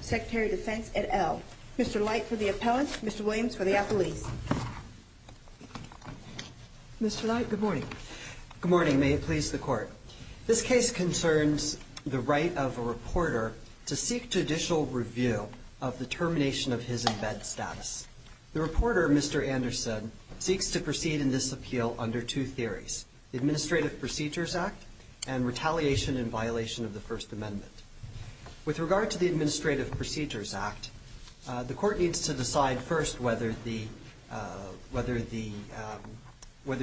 Secretary of Defense, et al. Mr. Light for the appellants, Mr. Williams for the appellees. Mr. Light, good morning. Good morning, may it please the Court. This case concerns the right of a reporter to seek judicial review of the termination of his in bed status. The reporter, Mr. Anderson, seeks to determine whether or not he is entitled to a judicial review of the termination of his in bed status. He seeks to proceed in this appeal under two theories, the Administrative Procedures Act and retaliation in violation of the First Amendment. With regard to the Administrative Procedures Act, the Court needs to decide first whether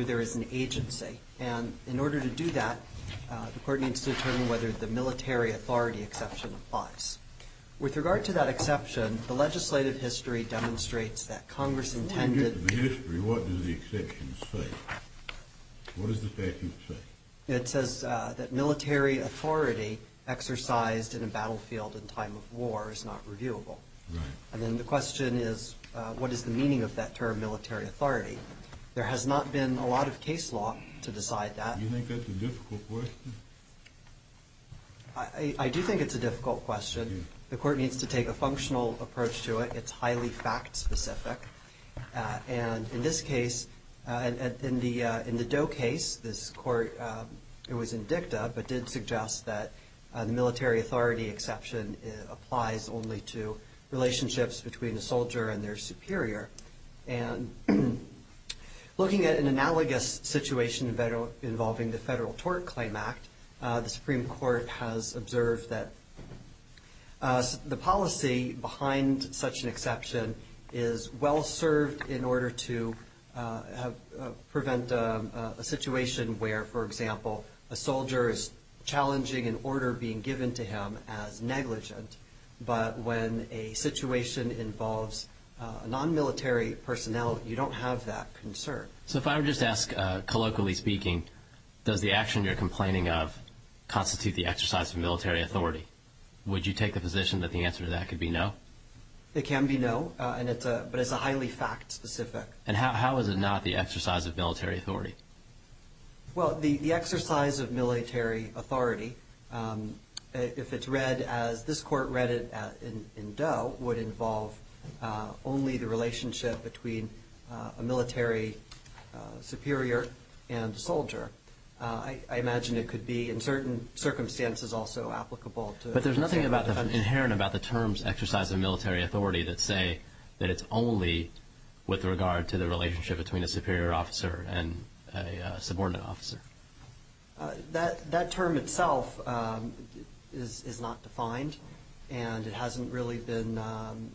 there is an agency and in order to do that, the Court needs to determine whether the military authority exception applies. With regard to that exception, the legislative history demonstrates that Congress intended... The legislative history, what does the exception say? What does the statute say? It says that military authority exercised in a battlefield in time of war is not reviewable. Right. And then the question is, what is the meaning of that term military authority? There has not been a lot of case law to decide that. Do you think that's a difficult question? I do think it's a difficult question. The Court needs to take a functional approach to it. It's highly fact specific. And in this case, in the Doe case, this Court, it was in dicta, but did suggest that the military authority exception applies only to relationships between a soldier and their superior. And looking at an analogous situation involving the Federal Tort Claim Act, the Supreme Court has observed that the policy behind such an exception is well served in order to prevent a situation where, for example, a soldier is challenging an order being given to him as negligent. But when a situation involves non-military personnel, you don't have that concern. So if I were just to ask, colloquially speaking, does the action you're complaining of constitute the exercise of military authority, would you take the position that the answer to that could be no? It can be no, but it's a highly fact specific. And how is it not the exercise of military authority? Well, the exercise of military authority, if it's read as this Court read it in Doe, would involve only the relationship between a military superior and a soldier. I imagine it could be in certain circumstances also applicable. But there's nothing inherent about the terms exercise of military authority that say that it's only with regard to the relationship between a superior officer and a subordinate officer. That term itself is not defined, and it hasn't really been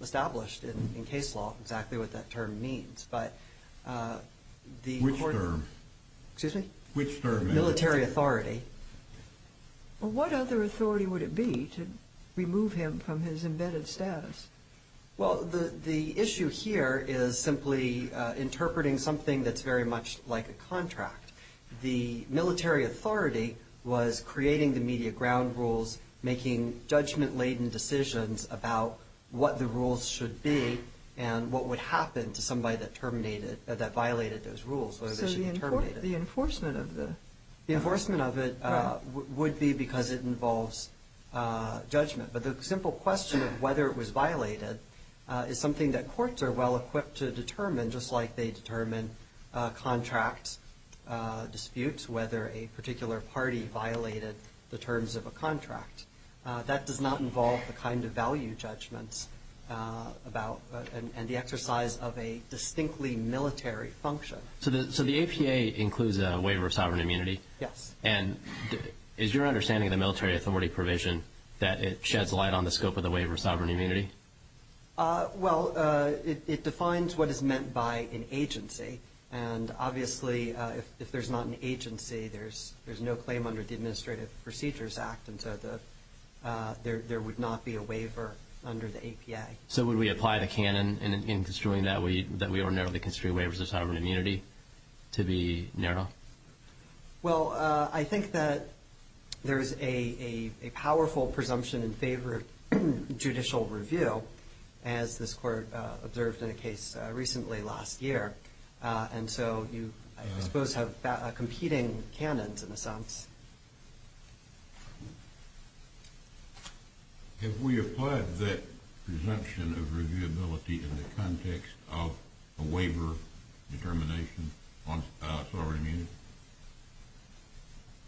established in case law exactly what that term means. Which term? Excuse me? Which term? Military authority. Well, what other authority would it be to remove him from his embedded status? Well, the issue here is simply interpreting something that's very much like a contract. The military authority was creating the media ground rules, making judgment-laden decisions about what the rules should be and what would happen to somebody that terminated, that violated those rules, whether they should be terminated. So the enforcement of the… The enforcement of it would be because it involves judgment. But the simple question of whether it was violated is something that courts are well-equipped to determine, just like they determine contract disputes, whether a particular party violated the terms of a contract. That does not involve the kind of value judgments about and the exercise of a distinctly military function. So the APA includes a waiver of sovereign immunity. Yes. And is your understanding of the military authority provision that it sheds light on the scope of the waiver of sovereign immunity? Well, it defines what is meant by an agency. And obviously, if there's not an agency, there's no claim under the Administrative Procedures Act, and so there would not be a waiver under the APA. So would we apply the canon in construing that we ordinarily construe waivers of sovereign immunity to be narrow? Well, I think that there's a powerful presumption in favor of judicial review, as this Court observed in a case recently last year. And so you, I suppose, have competing canons, in a sense. Have we applied that presumption of reviewability in the context of a waiver determination on sovereign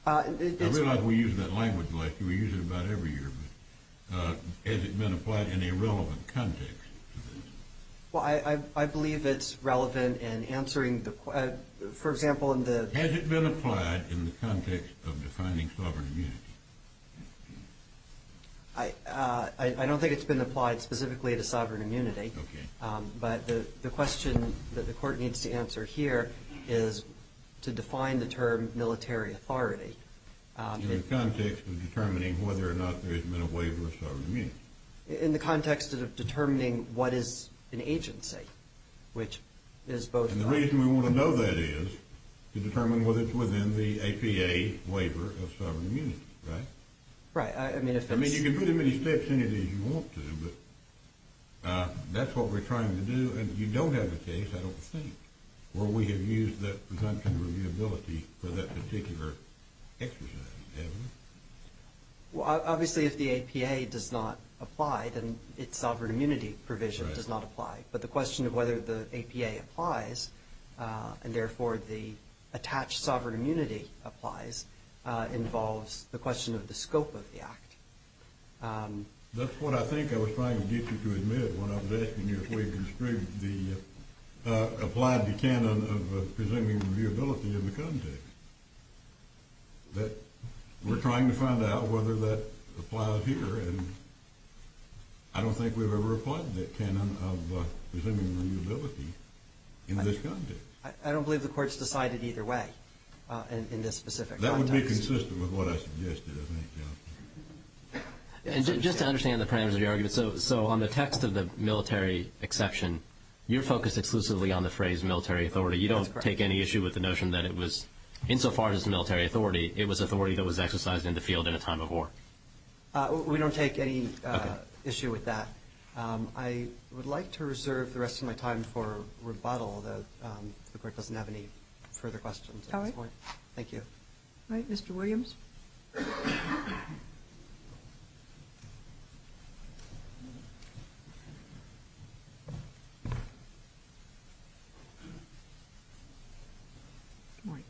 immunity? I realize we use that language. We use it about every year. But has it been applied in a relevant context to this? Well, I believe it's relevant in answering, for example, in the – in the context of defining sovereign immunity. I don't think it's been applied specifically to sovereign immunity. Okay. But the question that the Court needs to answer here is to define the term military authority. In the context of determining whether or not there has been a waiver of sovereign immunity. In the context of determining what is an agency, which is both – And the reason we want to know that is to determine whether it's within the APA waiver of sovereign immunity, right? Right. I mean, if that's – I mean, you can put as many steps in it as you want to, but that's what we're trying to do. And you don't have a case, I don't think, where we have used that presumption of reviewability for that particular exercise. Well, obviously, if the APA does not apply, then its sovereign immunity provision does not apply. Right. But the question of whether the APA applies, and therefore, the attached sovereign immunity applies, involves the question of the scope of the act. That's what I think I was trying to get you to admit when I was asking you if we had construed the – applied the canon of presuming reviewability in the context. That we're trying to find out whether that applies here, I don't think we've ever applied that canon of presuming reviewability in this context. I don't believe the Court's decided either way in this specific context. That would be consistent with what I suggested, I think. And just to understand the parameters of your argument, so on the text of the military exception, you're focused exclusively on the phrase military authority. That's correct. You don't take any issue with the notion that it was, insofar as military authority, it was authority that was exercised in the field in a time of war. We don't take any issue with that. I would like to reserve the rest of my time for rebuttal, although the Court doesn't have any further questions at this point. All right. Thank you. All right. Mr. Williams. Good morning.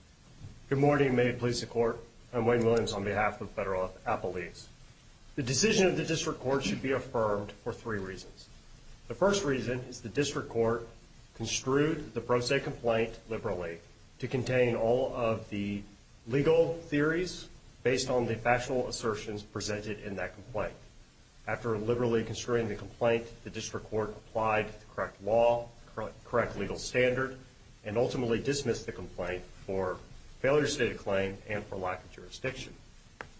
Good morning. May it please the Court, I'm Wayne Williams on behalf of Federal Appellees. The decision of the District Court should be affirmed for three reasons. The first reason is the District Court construed the Pro Se complaint liberally to contain all of the legal theories based on the factual assertions presented in that complaint. After liberally construing the complaint, the District Court applied the correct law, the correct legal standard, and ultimately dismissed the complaint for failure to state a claim and for lack of jurisdiction.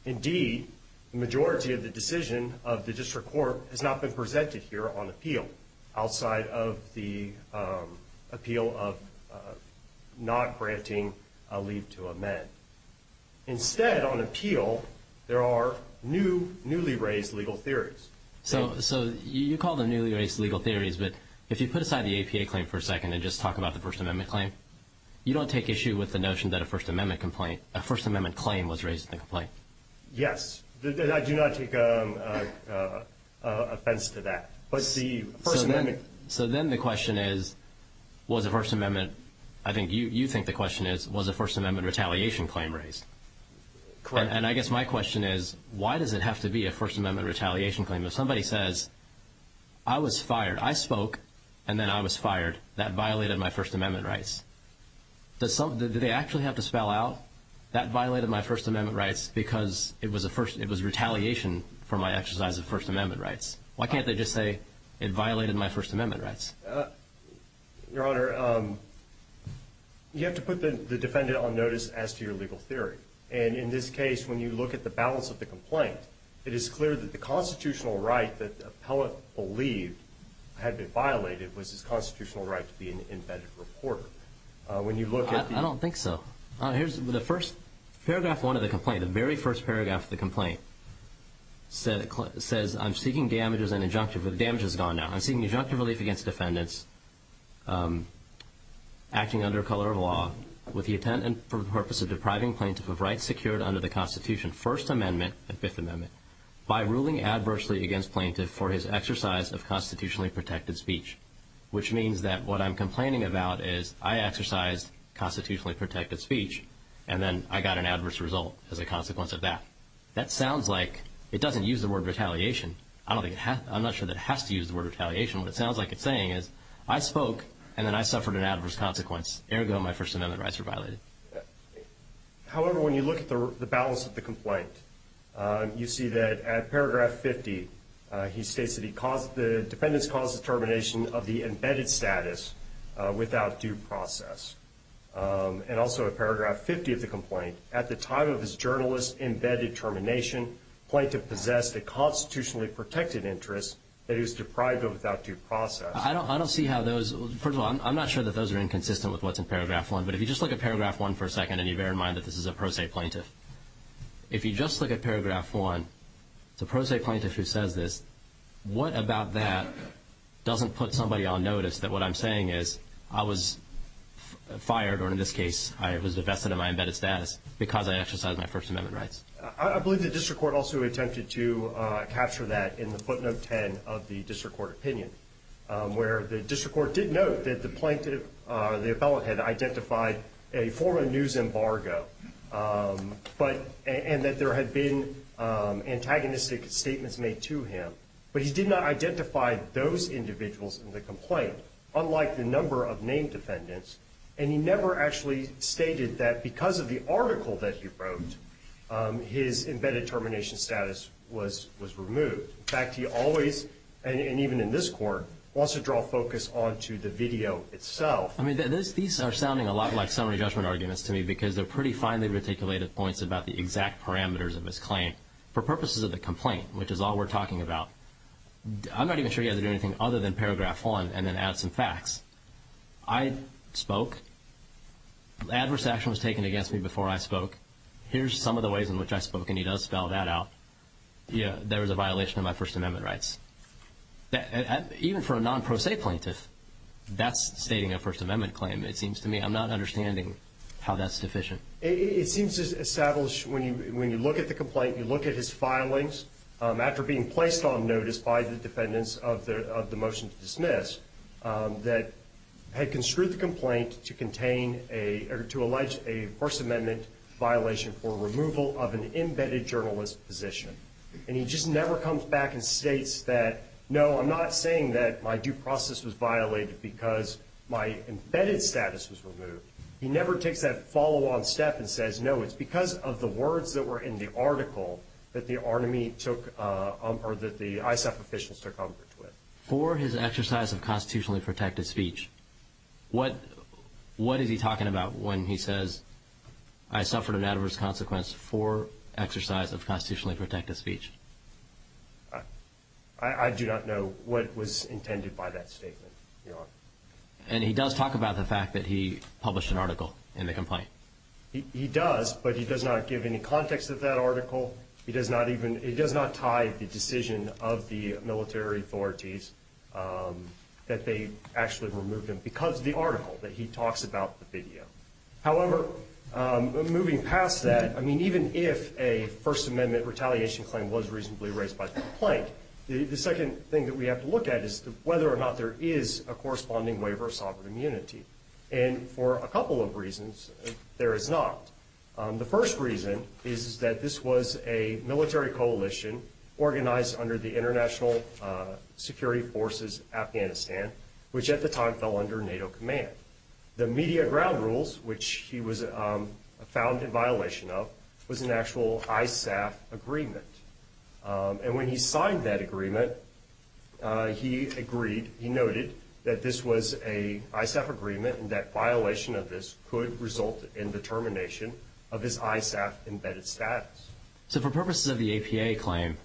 Indeed, the majority of the decision of the District Court has not been presented here on appeal, outside of the appeal of not granting a leave to amend. Instead, on appeal, there are new, newly raised legal theories. So you call them newly raised legal theories, but if you put aside the APA claim for a second and just talk about the First Amendment claim, you don't take issue with the notion that a First Amendment claim was raised in the complaint? Yes. I do not take offense to that. So then the question is, was a First Amendment, I think you think the question is, was a First Amendment retaliation claim raised? Correct. And I guess my question is, why does it have to be a First Amendment retaliation claim? If somebody says, I was fired, I spoke, and then I was fired, that violated my First Amendment rights. Did they actually have to spell out, that violated my First Amendment rights because it was retaliation for my exercise of First Amendment rights? Why can't they just say, it violated my First Amendment rights? Your Honor, you have to put the defendant on notice as to your legal theory. And in this case, when you look at the balance of the complaint, it is clear that the constitutional right that the appellate believed had been violated was his constitutional right to be an embedded reporter. I don't think so. Here's the first paragraph, one of the complaint, the very first paragraph of the complaint, says, I'm seeking damages and injunctive relief. The damage is gone now. I'm seeking injunctive relief against defendants acting under color of law with the intent and purpose of depriving plaintiff of rights secured under the Constitution, First Amendment and Fifth Amendment, by ruling adversely against plaintiff for his exercise of constitutionally protected speech. Which means that what I'm complaining about is, I exercised constitutionally protected speech, and then I got an adverse result as a consequence of that. That sounds like, it doesn't use the word retaliation. I'm not sure that it has to use the word retaliation. What it sounds like it's saying is, I spoke, and then I suffered an adverse consequence. Ergo, my First Amendment rights were violated. However, when you look at the balance of the complaint, you see that at paragraph 50, he states that the defendants caused the termination of the embedded status without due process. And also at paragraph 50 of the complaint, at the time of his journalist's embedded termination, plaintiff possessed a constitutionally protected interest that he was deprived of without due process. I don't see how those, first of all, I'm not sure that those are inconsistent with what's in paragraph 1. But if you just look at paragraph 1 for a second, and you bear in mind that this is a pro se plaintiff. If you just look at paragraph 1, it's a pro se plaintiff who says this. What about that doesn't put somebody on notice that what I'm saying is, I was fired, or in this case, I was divested of my embedded status, because I exercised my First Amendment rights. I believe the district court also attempted to capture that in the footnote 10 of the district court opinion, where the district court did note that the plaintiff, the appellate, had identified a former news embargo, and that there had been antagonistic statements made to him. But he did not identify those individuals in the complaint, unlike the number of named defendants. And he never actually stated that because of the article that he wrote, his embedded termination status was removed. In fact, he always, and even in this court, wants to draw focus onto the video itself. I mean, these are sounding a lot like summary judgment arguments to me, because they're pretty finely reticulated points about the exact parameters of his claim, for purposes of the complaint, which is all we're talking about. I'm not even sure you guys are doing anything other than paragraph 1, and then add some facts. I spoke. Adverse action was taken against me before I spoke. Here's some of the ways in which I spoke, and he does spell that out. Yeah, there was a violation of my First Amendment rights. Even for a non-pro se plaintiff, that's stating a First Amendment claim, it seems to me. I'm not understanding how that's deficient. It seems to establish, when you look at the complaint, you look at his filings, after being placed on notice by the defendants of the motion to dismiss, that had construed the complaint to allege a First Amendment violation for removal of an embedded journalist position. And he just never comes back and states that, no, I'm not saying that my due process was violated because my embedded status was removed. He never takes that follow-on step and says, No, it's because of the words that were in the article that the ISAF officials took umbrage with. For his exercise of constitutionally protected speech, what is he talking about when he says, I suffered an adverse consequence for exercise of constitutionally protected speech? I do not know what was intended by that statement, Your Honor. And he does talk about the fact that he published an article in the complaint? He does, but he does not give any context of that article. He does not tie the decision of the military authorities that they actually removed him because of the article that he talks about in the video. However, moving past that, I mean, even if a First Amendment retaliation claim was reasonably raised by the complaint, the second thing that we have to look at is whether or not there is a corresponding waiver of sovereign immunity. And for a couple of reasons, there is not. The first reason is that this was a military coalition organized under the International Security Forces Afghanistan, which at the time fell under NATO command. The media ground rules, which he was found in violation of, was an actual ISAF agreement. And when he signed that agreement, he agreed, he noted that this was an ISAF agreement and that violation of this could result in the termination of his ISAF embedded status. So for purposes of the APA claim,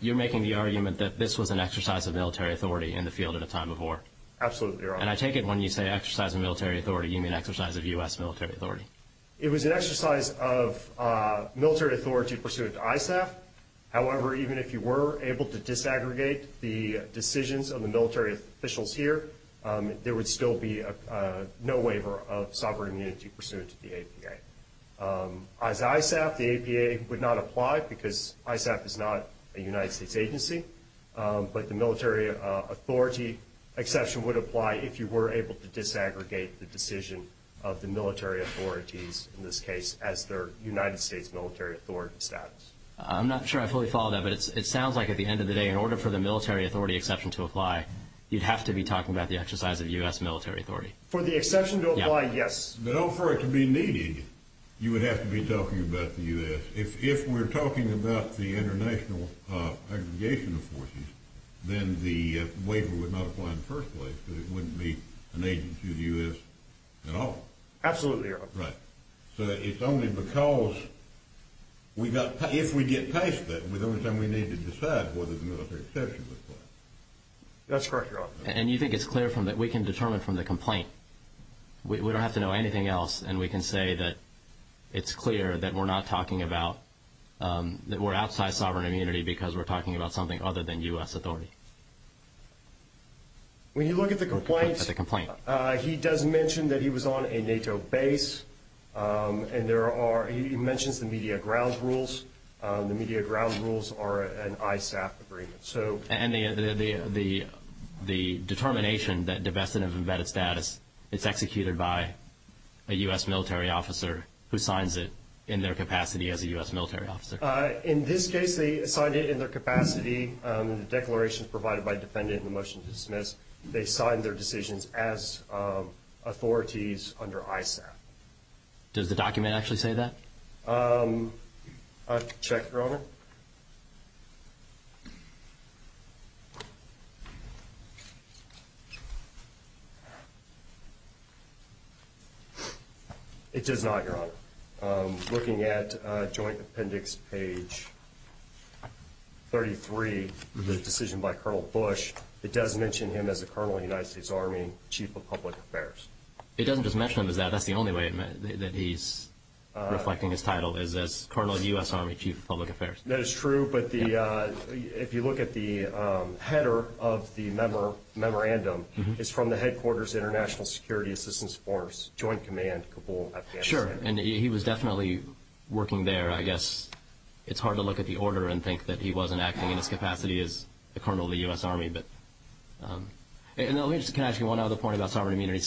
you're making the argument that this was an exercise of military authority in the field at a time of war? Absolutely, Your Honor. And I take it when you say exercise of military authority, you mean exercise of U.S. military authority? It was an exercise of military authority pursuant to ISAF. However, even if you were able to disaggregate the decisions of the military officials here, there would still be no waiver of sovereign immunity pursuant to the APA. As ISAF, the APA would not apply because ISAF is not a United States agency, but the military authority exception would apply if you were able to disaggregate the decision of the military authorities, in this case, as their United States military authority status. I'm not sure I fully follow that, but it sounds like at the end of the day, in order for the military authority exception to apply, you'd have to be talking about the exercise of U.S. military authority. For the exception to apply, yes. No, for it to be needed, you would have to be talking about the U.S. If we're talking about the international aggregation of forces, then the waiver would not apply in the first place because it wouldn't be an agency of the U.S. at all. Absolutely wrong. Right. So it's only because if we get past that, the only time we need to decide whether the military exception would apply. That's correct, Your Honor. And you think it's clear that we can determine from the complaint. We don't have to know anything else, and we can say that it's clear that we're not talking about that we're outside sovereign immunity because we're talking about something other than U.S. authority. When you look at the complaint, he does mention that he was on a NATO base, and he mentions the media grounds rules. The media grounds rules are an ISAF agreement. And the determination that divestment of embedded status is executed by a U.S. military officer who signs it in their capacity as a U.S. military officer? In this case, they signed it in their capacity. The declaration is provided by a defendant, and the motion is dismissed. They signed their decisions as authorities under ISAF. Does the document actually say that? I'll check, Your Honor. It does not, Your Honor. Looking at Joint Appendix Page 33, the decision by Colonel Bush, it does mention him as a colonel in the United States Army, chief of public affairs. It doesn't just mention him as that. That's the only way that he's reflecting his title is as colonel in the U.S. Army, chief of public affairs. That is true, but if you look at the header of the memorandum, it's from the headquarters International Security Assistance Force, Joint Command, Kabul, Afghanistan. Sure, and he was definitely working there. I guess it's hard to look at the order and think that he wasn't acting in his capacity as a colonel in the U.S. Army. Let me just ask you one other point about sovereign immunity.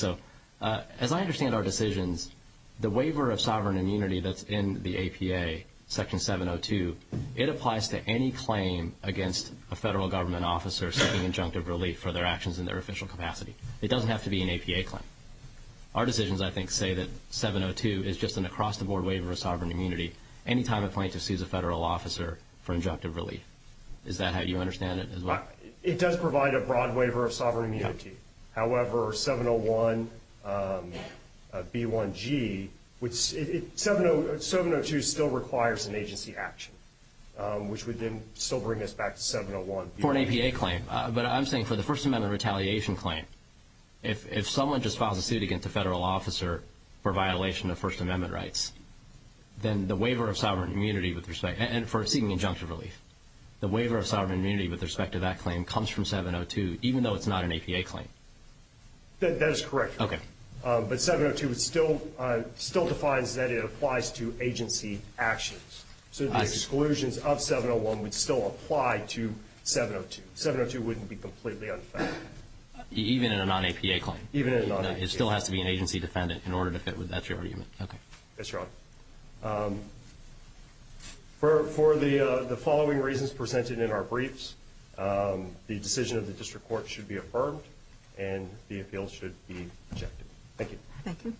As I understand our decisions, the waiver of sovereign immunity that's in the APA, Section 702, it applies to any claim against a federal government officer seeking injunctive relief for their actions in their official capacity. It doesn't have to be an APA claim. Our decisions, I think, say that 702 is just an across-the-board waiver of sovereign immunity any time a plaintiff sees a federal officer for injunctive relief. Is that how you understand it? It does provide a broad waiver of sovereign immunity. However, 701B1G, 702 still requires an agency action, which would then still bring us back to 701B1G. For an APA claim, but I'm saying for the First Amendment retaliation claim, if someone just files a suit against a federal officer for violation of First Amendment rights, then the waiver of sovereign immunity with respect to seeking injunctive relief, the waiver of sovereign immunity with respect to that claim comes from 702, even though it's not an APA claim. That is correct. Okay. But 702 still defines that it applies to agency actions. So the exclusions of 701 would still apply to 702. 702 wouldn't be completely unfound. Even in a non-APA claim? Even in a non-APA claim. It still has to be an agency defendant in order to fit with that argument. Okay. That's right. For the following reasons presented in our briefs, the decision of the district court should be affirmed, and the appeal should be rejected. Thank you. Thank you.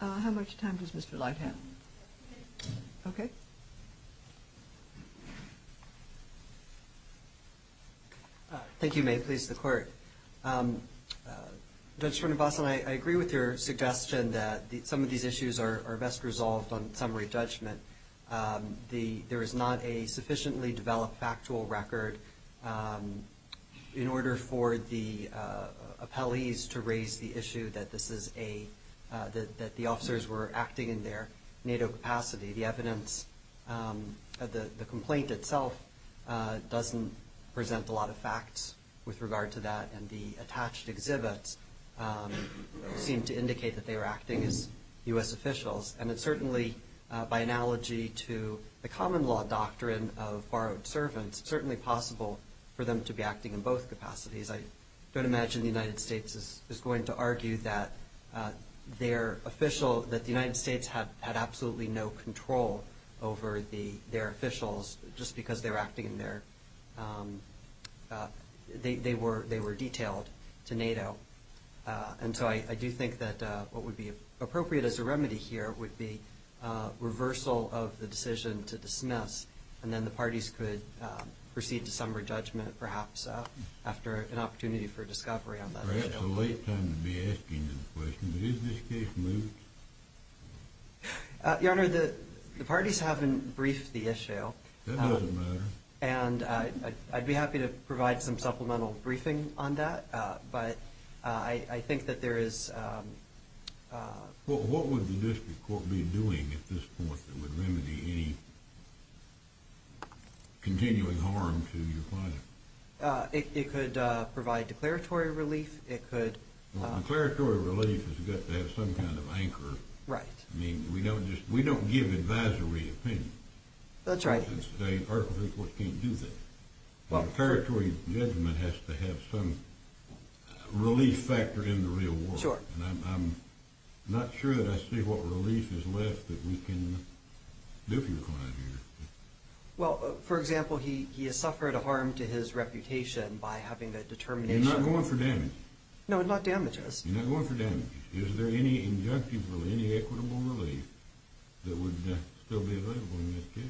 How much time does Mr. Leib have? Okay. Thank you. May it please the Court. Judge Srinivasan, I agree with your suggestion that some of these issues are best resolved on summary judgment. There is not a sufficiently developed factual record in order for the appellees to raise the issue that this is a – that the officers were acting in their NATO capacity. The evidence of the complaint itself doesn't present a lot of facts with regard to that, and the attached exhibits seem to indicate that they were acting as U.S. officials. And it's certainly, by analogy to the common law doctrine of borrowed servants, certainly possible for them to be acting in both capacities. I don't imagine the United States is going to argue that their official – that they had control over their officials just because they were acting in their – they were detailed to NATO. And so I do think that what would be appropriate as a remedy here would be reversal of the decision to dismiss, and then the parties could proceed to summary judgment perhaps after an opportunity for discovery on that issue. Perhaps it's a late time to be asking this question, but is this case moved? Your Honor, the parties haven't briefed the issue. That doesn't matter. And I'd be happy to provide some supplemental briefing on that, but I think that there is – Well, what would the district court be doing at this point that would remedy any continuing harm to your client? It could provide declaratory relief. It could – Right. I mean, we don't just – we don't give advisory opinion. That's right. The State Arbitrary Court can't do that. Well – A declaratory judgment has to have some relief factor in the real world. Sure. And I'm not sure that I see what relief is left that we can do for your client here. Well, for example, he has suffered a harm to his reputation by having a determination – You're not going for damage. No, not damages. You're not going for damages. Is there any injunctive or any equitable relief that would still be available in this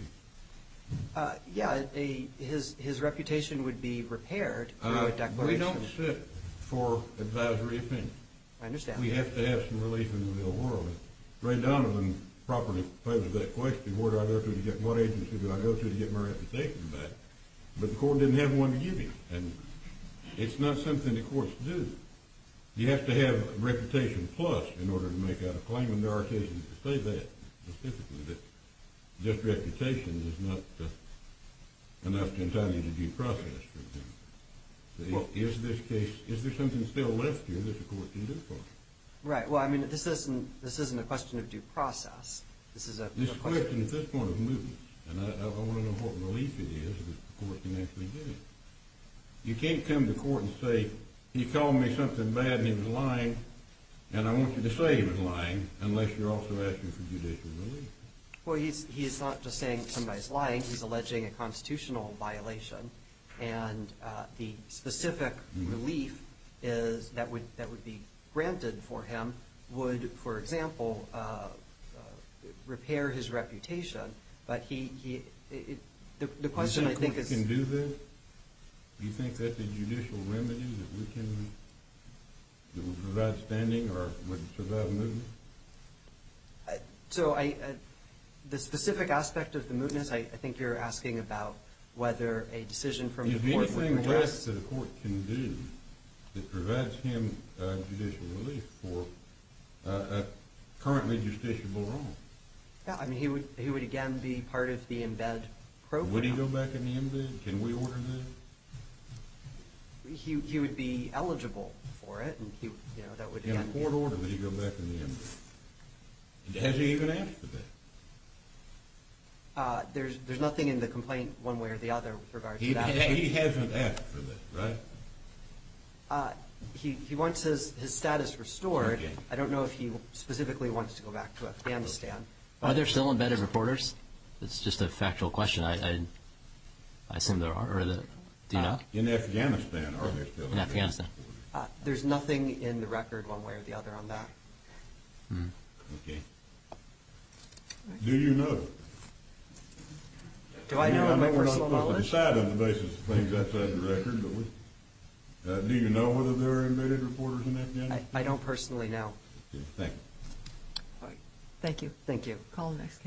case? Yeah, his reputation would be repaired through a declaration. We don't sit for advisory opinion. I understand. We have to have some relief in the real world. Ray Donovan properly posed that question. What agency would I go to to get my reputation back? But the court didn't have one to give you. And it's not something the courts do. You have to have reputation plus in order to make out a claim. And there are cases that say that specifically, that just reputation is not enough to entitle you to due process. Is there something still left here that the court can do for you? Right. Well, I mean, this isn't a question of due process. This is a question – This is a question at this point of movement. And I want to know what relief it is that the court can actually give you. You can't come to court and say, he called me something bad and he was lying, and I want you to say he was lying unless you're also asking for judicial relief. Well, he's not just saying somebody's lying. He's alleging a constitutional violation. And the specific relief that would be granted for him would, for example, repair his reputation. But the question I think is – do you think that's a judicial remedy that we can – that would provide standing or would provide movement? So the specific aspect of the movement, I think you're asking about whether a decision from the court would – Is there anything left that a court can do that provides him judicial relief for a currently justiciable wrong? Yeah, I mean, he would, again, be part of the embed program. Would he go back in the embed? Can we order that? He would be eligible for it. In a court order, would he go back in the embed? Has he even asked for that? There's nothing in the complaint one way or the other with regard to that. He hasn't asked for that, right? He wants his status restored. I don't know if he specifically wants to go back to Afghanistan. Are there still embedded reporters? That's just a factual question. I assume there are. Do you know? In Afghanistan, are there still embedded reporters? In Afghanistan. There's nothing in the record one way or the other on that. Okay. Do you know? Do I know? I'm not supposed to decide on the basis of things outside the record, but do you know whether there are embedded reporters in Afghanistan? I don't personally know. Okay, thank you. Thank you. Thank you. Thank you.